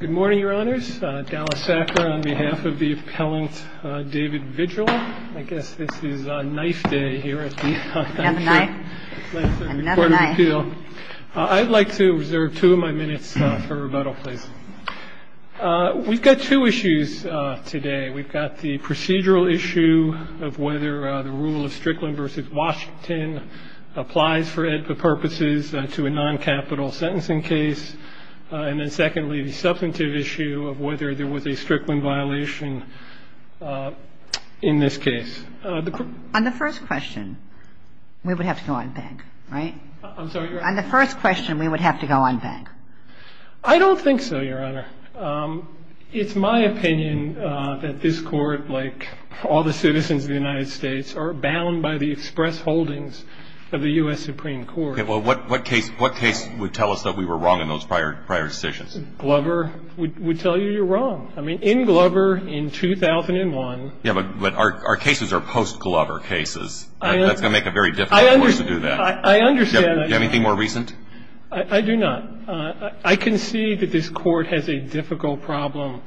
Good morning, your honors. Dallas Sacker on behalf of the appellant David Vigil. I guess this is knife day here at the court of appeal. I'd like to reserve two of my minutes for rebuttal, please. We've got two issues today. We've got the procedural issue of whether the rule of Strickland v. Washington applies for purposes to a noncapital sentencing case. And then secondly, the substantive issue of whether there was a Strickland violation in this case. On the first question, we would have to go on bank, right? I'm sorry. On the first question, we would have to go on bank. I don't think so, your honor. It's my opinion that this court, like all the citizens of the United States, are bound by the express holdings of the U.S. Supreme Court. A Glover violation. Well, what case would tell us that we were wrong in those prior decisions? Glover would tell you you're wrong. I mean, in Glover, in 2001. Yeah, but our cases are post-Glover cases. That's going to make it very difficult to do that. I understand that. Do you have anything more recent? I do not. I can see that this Court has a difficult problem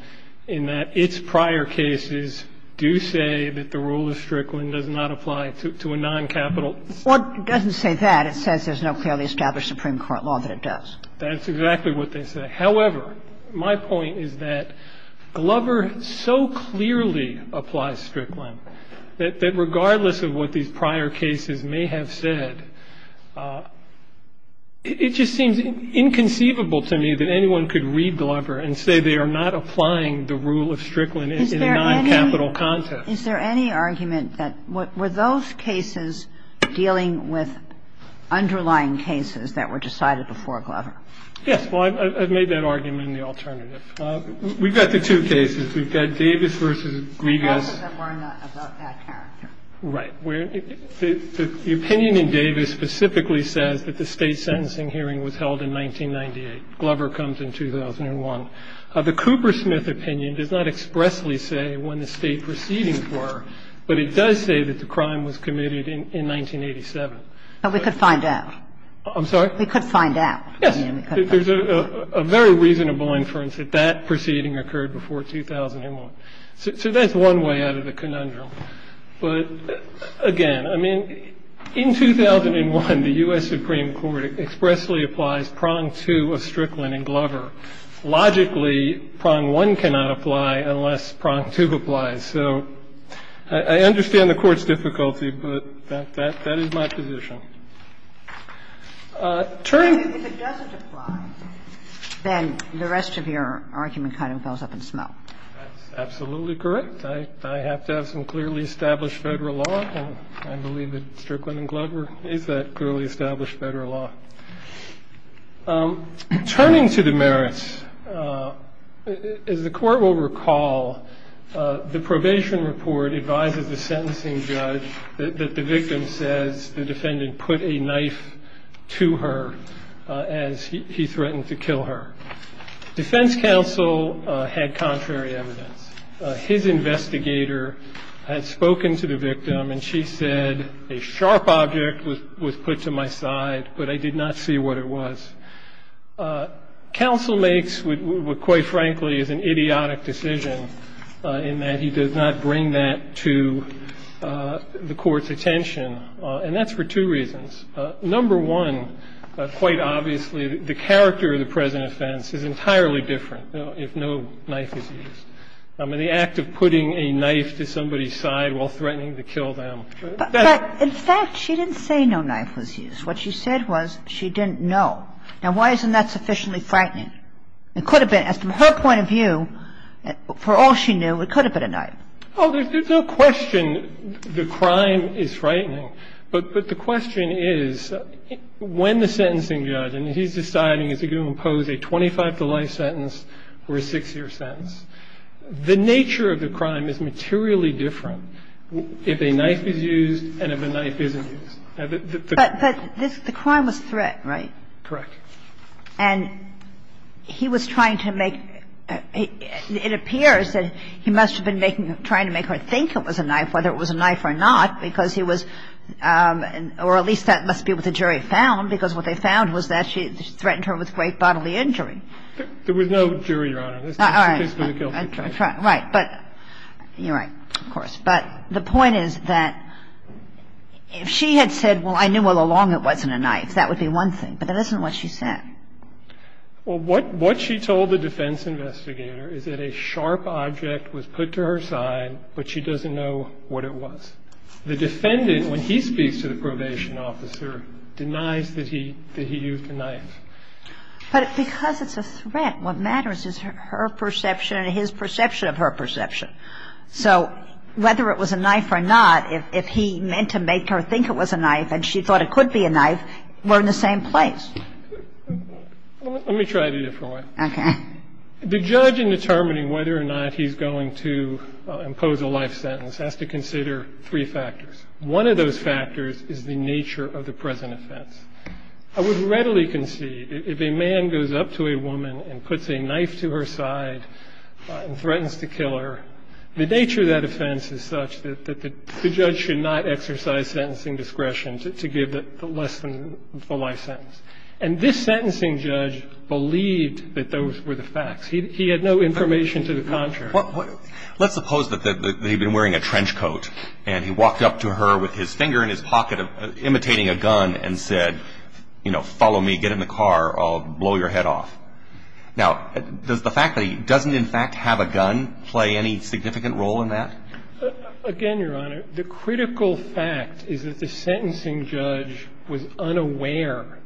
in that its prior cases do say that the rule of Strickland does not apply to a non-capital. Well, it doesn't say that. It says there's no clearly established Supreme Court law that it does. That's exactly what they say. However, my point is that Glover so clearly applies Strickland that regardless of what these prior cases may have said, it just seems inconceivable to me that anyone could read Glover and say they are not applying the rule of Strickland in a non-capital context. Is there any argument that were those cases dealing with underlying cases that were decided before Glover? Yes. Well, I've made that argument in the alternative. We've got the two cases. We've got Davis v. Griegas. And we've got the two cases that were not about that character. Right. The opinion in Davis specifically says that the State sentencing hearing was held in 1998. Glover comes in 2001. The Coopersmith opinion does not expressly say when the State proceedings were, but it does say that the crime was committed in 1987. But we could find out. I'm sorry? We could find out. Yes. There's a very reasonable inference that that proceeding occurred before 2001. So that's one way out of the conundrum. But, again, I mean, in 2001, the U.S. Supreme Court expressly applies prong 2 of Strickland and Glover. Logically, prong 1 cannot apply unless prong 2 applies. So I understand the Court's difficulty, but that is my position. Turn to the other side. If it doesn't apply, then the rest of your argument kind of goes up in smoke. That's absolutely correct. I have to have some clearly established federal law, and I believe that Strickland and Glover is a clearly established federal law. Turning to the merits, as the Court will recall, the probation report advises the sentencing judge that the victim says the defendant put a knife to her as he threatened to kill her. Defense counsel had contrary evidence. His investigator had spoken to the victim, and she said, a sharp object was put to my side, but I did not see what it was. Counsel makes what quite frankly is an idiotic decision in that he does not bring that to the Court's attention, and that's for two reasons. Number one, quite obviously, the character of the present offense is entirely different if no knife is used. I mean, the act of putting a knife to somebody's side while threatening to kill them. Kagan. But, in fact, she didn't say no knife was used. What she said was she didn't know. Now, why isn't that sufficiently frightening? It could have been. As from her point of view, for all she knew, it could have been a knife. Oh, there's no question the crime is frightening. But the question is, when the sentencing judge, and he's deciding is he going to impose a 25-to-life sentence or a six-year sentence, the nature of the crime is materially different if a knife is used and if a knife isn't used. But the crime was threat, right? Correct. And he was trying to make – it appears that he must have been trying to make her think it was a knife, whether it was a knife or not, because he was – or at least that must be what the jury found, because what they found was that she threatened her with great bodily injury. There was no jury, Your Honor. All right. Right. But you're right, of course. But the point is that if she had said, well, I knew all along it wasn't a knife, that would be one thing. But that isn't what she said. Well, what she told the defense investigator is that a sharp object was put to her side, but she doesn't know what it was. The defendant, when he speaks to the probation officer, denies that he used a knife. But because it's a threat, what matters is her perception and his perception of her perception. So whether it was a knife or not, if he meant to make her think it was a knife and she thought it could be a knife, we're in the same place. Let me try it a different way. Okay. The judge, in determining whether or not he's going to impose a life sentence, has to consider three factors. One of those factors is the nature of the present offense. I would readily concede if a man goes up to a woman and puts a knife to her side and threatens to kill her, the nature of that offense is such that the judge should not exercise sentencing discretion to give less than the life sentence. And this sentencing judge believed that those were the facts. He had no information to the contrary. Let's suppose that he'd been wearing a trench coat and he walked up to her with his finger in his pocket, imitating a gun, and said, you know, follow me, get in the car, I'll blow your head off. Now, does the fact that he doesn't, in fact, have a gun play any significant role in that? Again, Your Honor, the critical fact is that the sentencing judge was unaware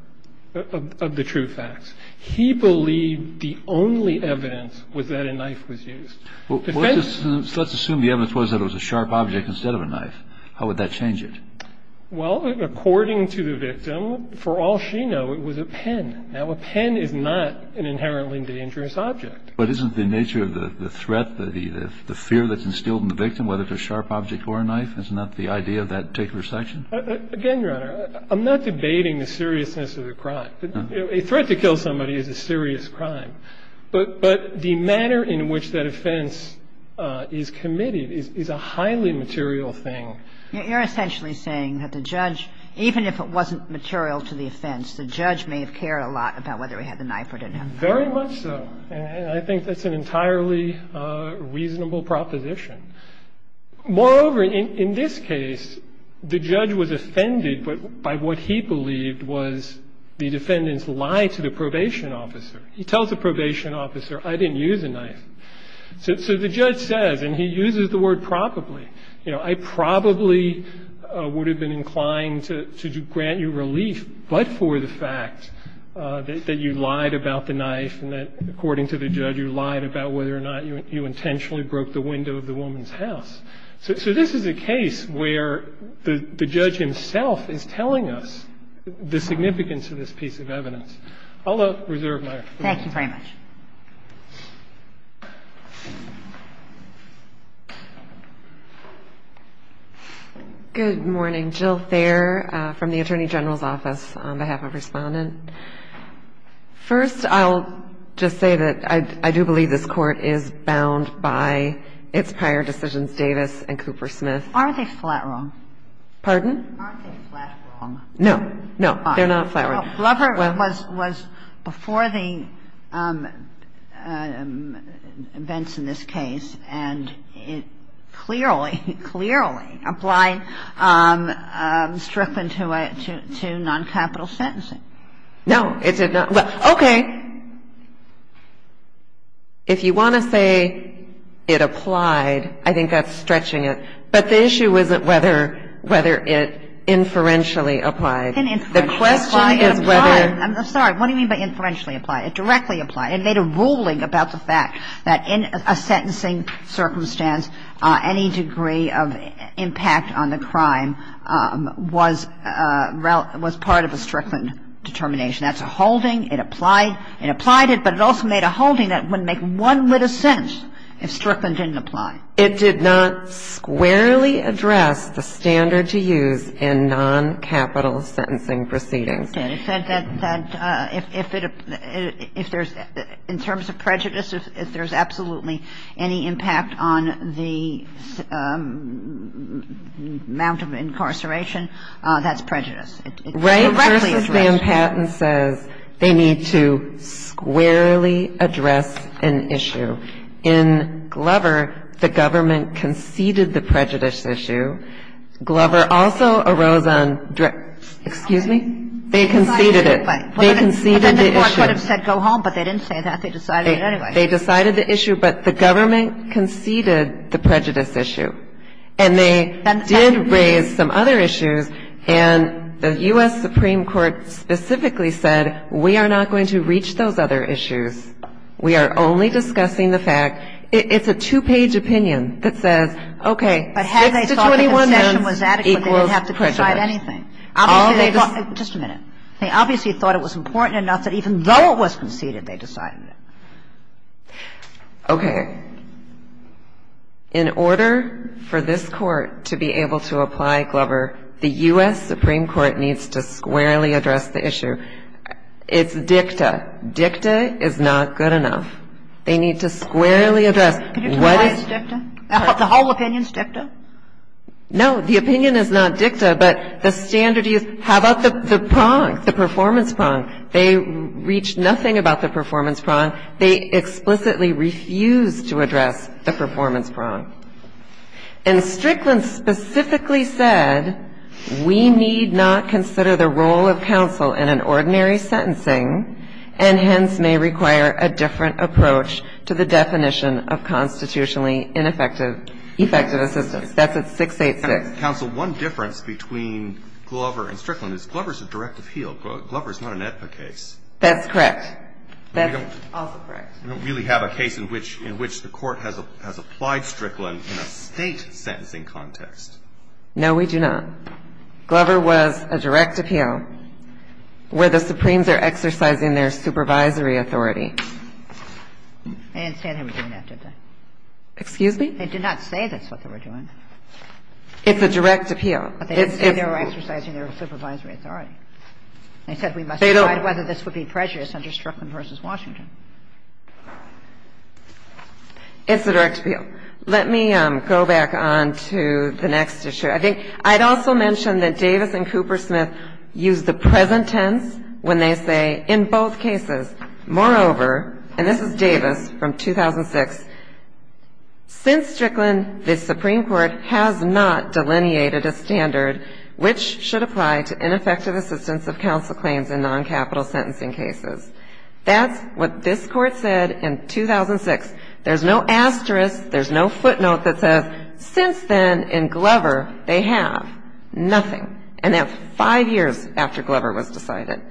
of the true facts. He believed the only evidence was that a knife was used. Let's assume the evidence was that it was a sharp object instead of a knife. How would that change it? Well, according to the victim, for all she knew, it was a pen. Now, a pen is not an inherently dangerous object. But isn't the nature of the threat, the fear that's instilled in the victim, whether it's a sharp object or a knife? Isn't that the idea of that particular section? Again, Your Honor, I'm not debating the seriousness of the crime. A threat to kill somebody is a serious crime. But the manner in which that offense is committed is a highly material thing. You're essentially saying that the judge, even if it wasn't material to the offense, the judge may have cared a lot about whether he had the knife or didn't have the knife. Very much so. And I think that's an entirely reasonable proposition. Moreover, in this case, the judge was offended by what he believed was the defendant's lie to the probation officer. He tells the probation officer, I didn't use a knife. So the judge says, and he uses the word probably, you know, you intentionally broke the window of the woman's house. So this is a case where the judge himself is telling us the significance of this piece of evidence. I'll reserve my remarks. Thank you very much. Good morning. Jill Thayer from the Attorney General's Office on behalf of Respondent. First, I'll just say that I do believe this Court is bound by its prior decisions, Davis and Coopersmith. Are they flat wrong? Pardon? Are they flat wrong? No, they're not flat wrong. Well, Blubber was before the events in this case, and it clearly, clearly applied Strickland to non-capital sentencing. No, it did not. Well, okay. If you want to say it applied, I think that's stretching it. But the issue isn't whether it inferentially applied. The question is whether — I'm sorry. What do you mean by inferentially applied? It directly applied. It made a ruling about the fact that in a sentencing circumstance, any degree of impact on the crime was part of a Strickland determination. That's a holding. It applied. It applied it, but it also made a holding that wouldn't make one little sense if Strickland didn't apply. It did not squarely address the standard to use in non-capital sentencing proceedings. Okay. It said that if it — if there's — in terms of prejudice, if there's absolutely any impact on the amount of incarceration, that's prejudice. It's directly addressed. Wright v. Van Patten says they need to squarely address an issue. In Glover, the government conceded the prejudice issue. Glover also arose on — excuse me? They conceded it. They conceded the issue. But then the court could have said go home, but they didn't say that. They decided it anyway. They decided the issue, but the government conceded the prejudice issue. And they did raise some other issues, and the U.S. Supreme Court specifically said we are not going to reach those other issues. We are only discussing the fact — it's a two-page opinion that says, okay, 6 to 21 months equals prejudice. But had they thought the concession was adequate, they didn't have to decide anything. All they — Just a minute. They obviously thought it was important enough that even though it was conceded, they decided it. Okay. In order for this Court to be able to apply Glover, the U.S. Supreme Court needs to squarely address the issue. It's dicta. But dicta is not good enough. They need to squarely address what is — Can you tell me why it's dicta? The whole opinion is dicta? No. The opinion is not dicta, but the standard is how about the prong, the performance prong? They reached nothing about the performance prong. They explicitly refused to address the performance prong. And Strickland specifically said we need not consider the role of counsel in an ordinary sentencing and hence may require a different approach to the definition of constitutionally ineffective — effective assistance. That's at 686. Counsel, one difference between Glover and Strickland is Glover is a direct appeal. Glover is not an AEDPA case. That's correct. That's also correct. We don't really have a case in which the Court has applied Strickland in a state sentencing context. No, we do not. So Glover was a direct appeal where the Supremes are exercising their supervisory authority. I didn't say they were doing that, did I? Excuse me? They did not say that's what they were doing. It's a direct appeal. But they did say they were exercising their supervisory authority. They said we must decide whether this would be precious under Strickland v. Washington. It's a direct appeal. Let me go back on to the next issue. I think I'd also mention that Davis and Coopersmith used the present tense when they say in both cases. Moreover — and this is Davis from 2006 — since Strickland, the Supreme Court has not delineated a standard which should apply to ineffective assistance of counsel claims in noncapital sentencing cases. That's what this Court said in 2006. There's no asterisk. There's no footnote that says since then in Glover they have nothing. And that's five years after Glover was decided.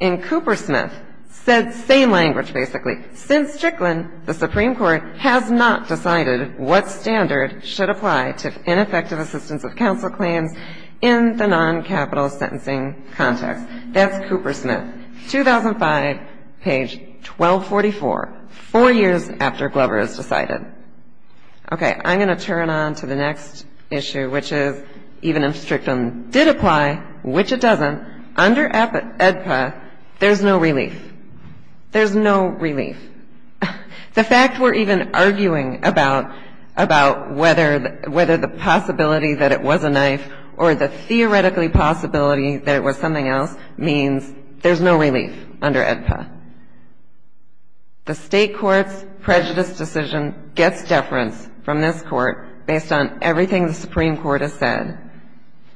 And Coopersmith said the same language, basically. Since Strickland, the Supreme Court has not decided what standard should apply to ineffective assistance of counsel claims in the noncapital sentencing context. That's Coopersmith, 2005, page 1244. Four years after Glover is decided. Okay. I'm going to turn on to the next issue, which is even if Strickland did apply, which it doesn't, under AEDPA there's no relief. There's no relief. The fact we're even arguing about whether the possibility that it was a knife or the theoretically possibility that it was something else means there's no relief under AEDPA. The State court's prejudice decision gets deference from this Court based on everything the Supreme Court has said.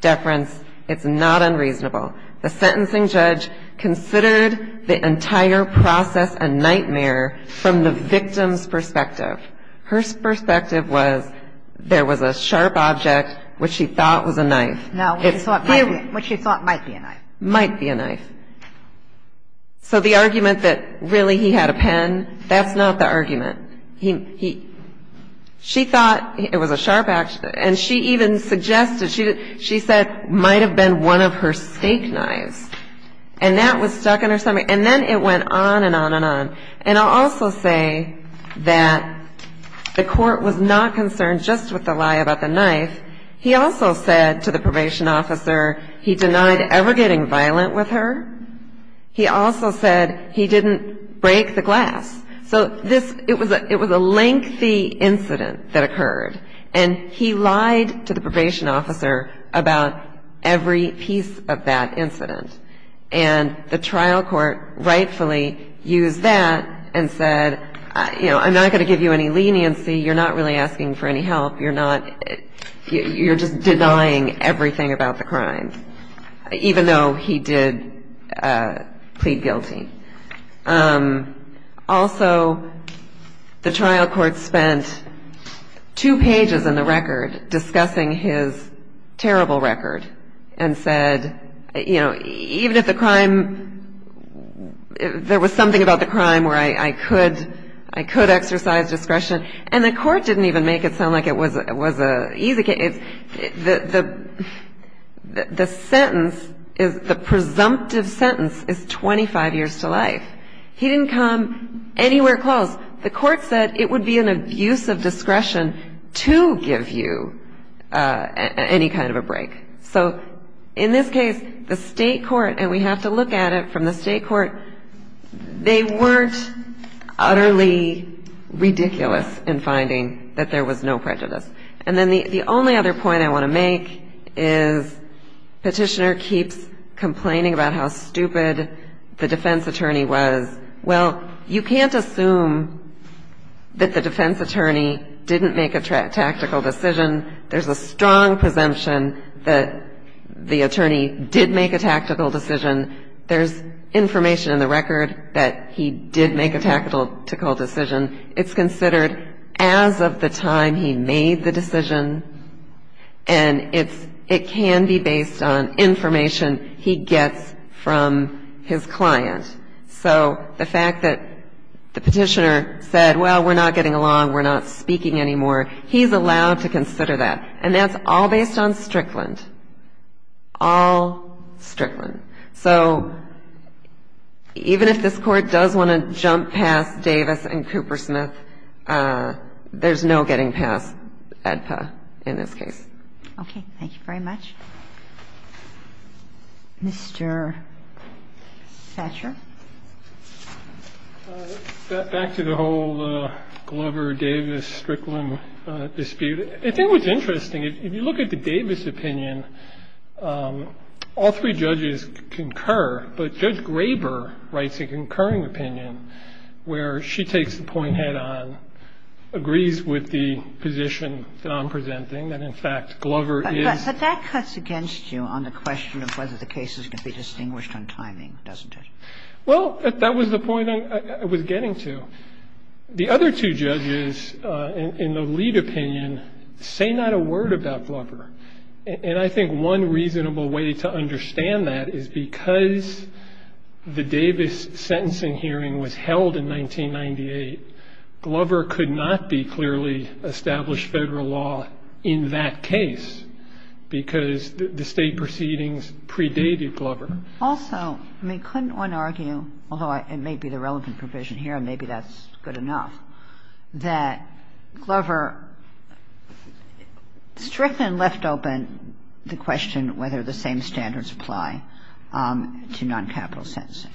Deference, it's not unreasonable. The sentencing judge considered the entire process a nightmare from the victim's perspective. Her perspective was there was a sharp object which she thought was a knife. Now, what she thought might be a knife. Might be a knife. So the argument that really he had a pen, that's not the argument. She thought it was a sharp object. And she even suggested, she said, might have been one of her steak knives. And that was stuck in her stomach. And then it went on and on and on. And I'll also say that the court was not concerned just with the lie about the knife. He also said to the probation officer he denied ever getting violent with her. He also said he didn't break the glass. So this, it was a lengthy incident that occurred. And he lied to the probation officer about every piece of that incident. And the trial court rightfully used that and said, you know, I'm not going to give you any leniency. You're not really asking for any help. You're not, you're just denying everything about the crime. Even though he did plead guilty. Also, the trial court spent two pages in the record discussing his terrible record. And said, you know, even if the crime, there was something about the crime where I could exercise discretion. And the court didn't even make it sound like it was an easy case. The sentence, the presumptive sentence is 25 years to life. He didn't come anywhere close. The court said it would be an abuse of discretion to give you any kind of a break. So in this case, the state court, and we have to look at it from the state court, they weren't utterly ridiculous in finding that there was no prejudice. And then the only other point I want to make is petitioner keeps complaining about how stupid the defense attorney was. Well, you can't assume that the defense attorney didn't make a tactical decision. There's a strong presumption that the attorney did make a tactical decision. There's information in the record that he did make a tactical decision. It's considered as of the time he made the decision. And it's, it can be based on information he gets from his client. So the fact that the petitioner said, well, we're not getting along, we're not speaking anymore. He's allowed to consider that. And that's all based on Strickland. All Strickland. So even if this Court does want to jump past Davis and Coopersmith, there's no getting past AEDPA in this case. Okay. Thank you very much. Mr. Thatcher. Back to the whole Glover-Davis-Strickland dispute. I think what's interesting, if you look at the Davis opinion, all three judges concur, but Judge Graber writes a concurring opinion where she takes the point head-on, agrees with the position that I'm presenting, that in fact Glover is. But that cuts against you on the question of whether the case is going to be distinguished on timing, doesn't it? Well, that was the point I was getting to. The other two judges in the lead opinion say not a word about Glover. And I think one reasonable way to understand that is because the Davis sentencing hearing was held in 1998, Glover could not be clearly established Federal law in that case because the State proceedings predated Glover. Also, I mean, couldn't one argue, although it may be the relevant provision here and maybe that's good enough, that Glover-Strickland left open the question whether the same standards apply to non-capital sentencing.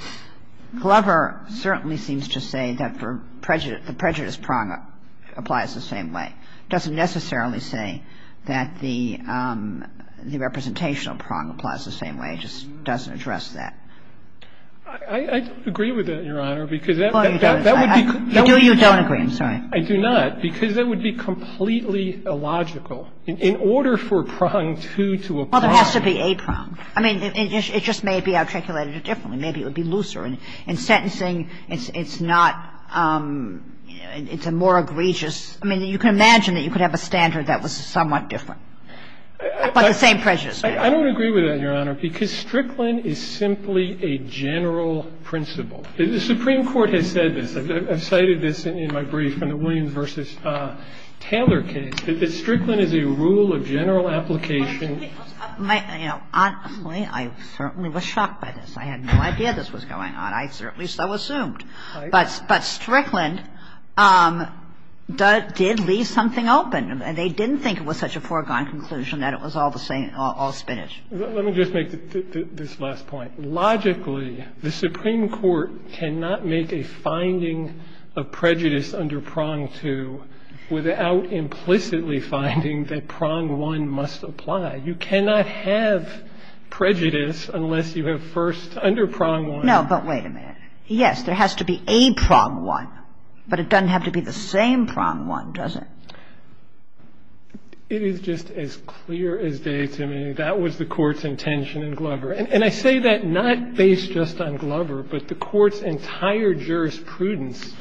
Glover certainly seems to say that the prejudice prong applies the same way. It doesn't necessarily say that the representational prong applies the same way. It just doesn't address that. I agree with that, Your Honor, because that would be completely illogical. Well, there has to be a prong. I mean, it just may be articulated differently. Maybe it would be looser. In sentencing, it's not, it's a more egregious. I mean, you can imagine that you could have a standard that was somewhat different, but the same prejudice. I don't agree with that, Your Honor, because Strickland is simply a general principle. The Supreme Court has said this. I've cited this in my brief in the Williams v. Taylor case, that Strickland is a rule of general application. My, you know, honestly, I certainly was shocked by this. I had no idea this was going on. I certainly so assumed. But Strickland did leave something open, and they didn't think it was such a foregone conclusion that it was all the same, all spinach. Let me just make this last point. Logically, the Supreme Court cannot make a finding of prejudice under prong two without implicitly finding that prong one must apply. You cannot have prejudice unless you have first under prong one. No, but wait a minute. Yes, there has to be a prong one, but it doesn't have to be the same prong one, does it? It is just as clear as day to me. That was the Court's intention in Glover. And I say that not based just on Glover, but the Court's entire jurisprudence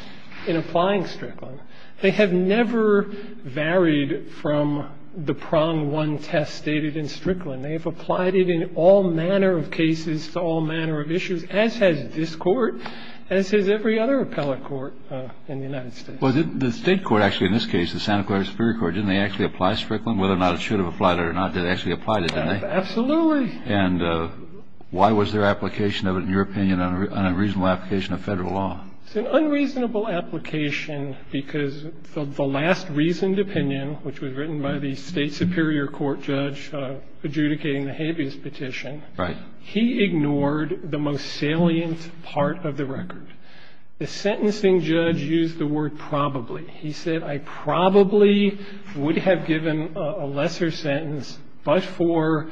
in applying Strickland. They have never varied from the prong one test stated in Strickland. And they have applied it in all manner of cases to all manner of issues, as has this court, as has every other appellate court in the United States. The state court, actually, in this case, the Santa Clara Superior Court, didn't they actually apply Strickland? Whether or not it should have applied or not, they actually applied it, didn't they? Absolutely. And why was their application of it, in your opinion, an unreasonable application of federal law? It's an unreasonable application because the last reasoned opinion, which was written by the state superior court judge adjudicating the habeas petition. Right. He ignored the most salient part of the record. The sentencing judge used the word probably. He said, I probably would have given a lesser sentence, but for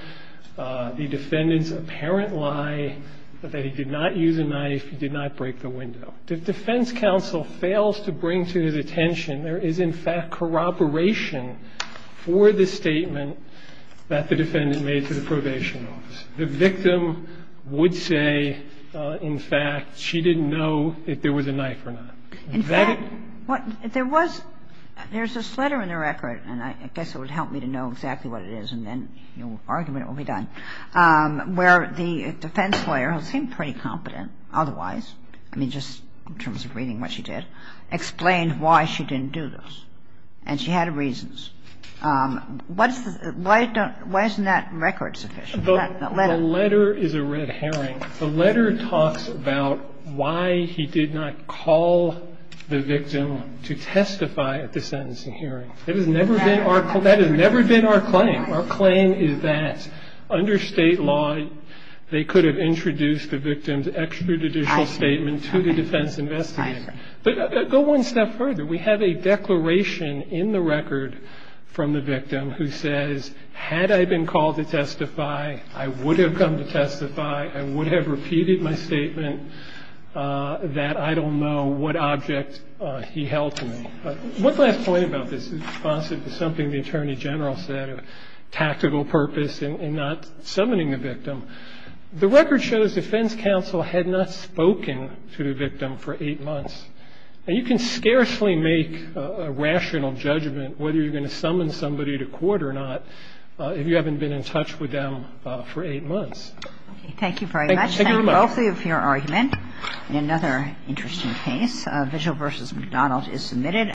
the defendant's apparent lie that he did not use a knife, he did not break the window. The defense counsel fails to bring to his attention there is, in fact, corroboration for the statement that the defendant made to the probation office. The victim would say, in fact, she didn't know if there was a knife or not. In fact, there was – there's this letter in the record, and I guess it would help me to know exactly what it is, and then argument will be done, where the defense lawyer, who seemed pretty competent otherwise, I mean, just in terms of reading what she did, explained why she didn't do this. And she had reasons. Why isn't that record sufficient? The letter. The letter is a red herring. The letter talks about why he did not call the victim to testify at the sentencing hearing. That has never been our – that has never been our claim. Our claim is that under State law, they could have introduced the victim's extrajudicial statement to the defense investigator. But go one step further. We have a declaration in the record from the victim who says, had I been called to testify, I would have come to testify. I would have repeated my statement that I don't know what object he held to me. One last point about this is something the Attorney General said, a tactical purpose in not summoning the victim. The record shows defense counsel had not spoken to the victim for eight months. And you can scarcely make a rational judgment whether you're going to summon somebody to court or not if you haven't been in touch with them for eight months. Thank you very much. Thank you very much. Thank you both for your argument. And another interesting case. A case called Vigil v. McDonald is submitted.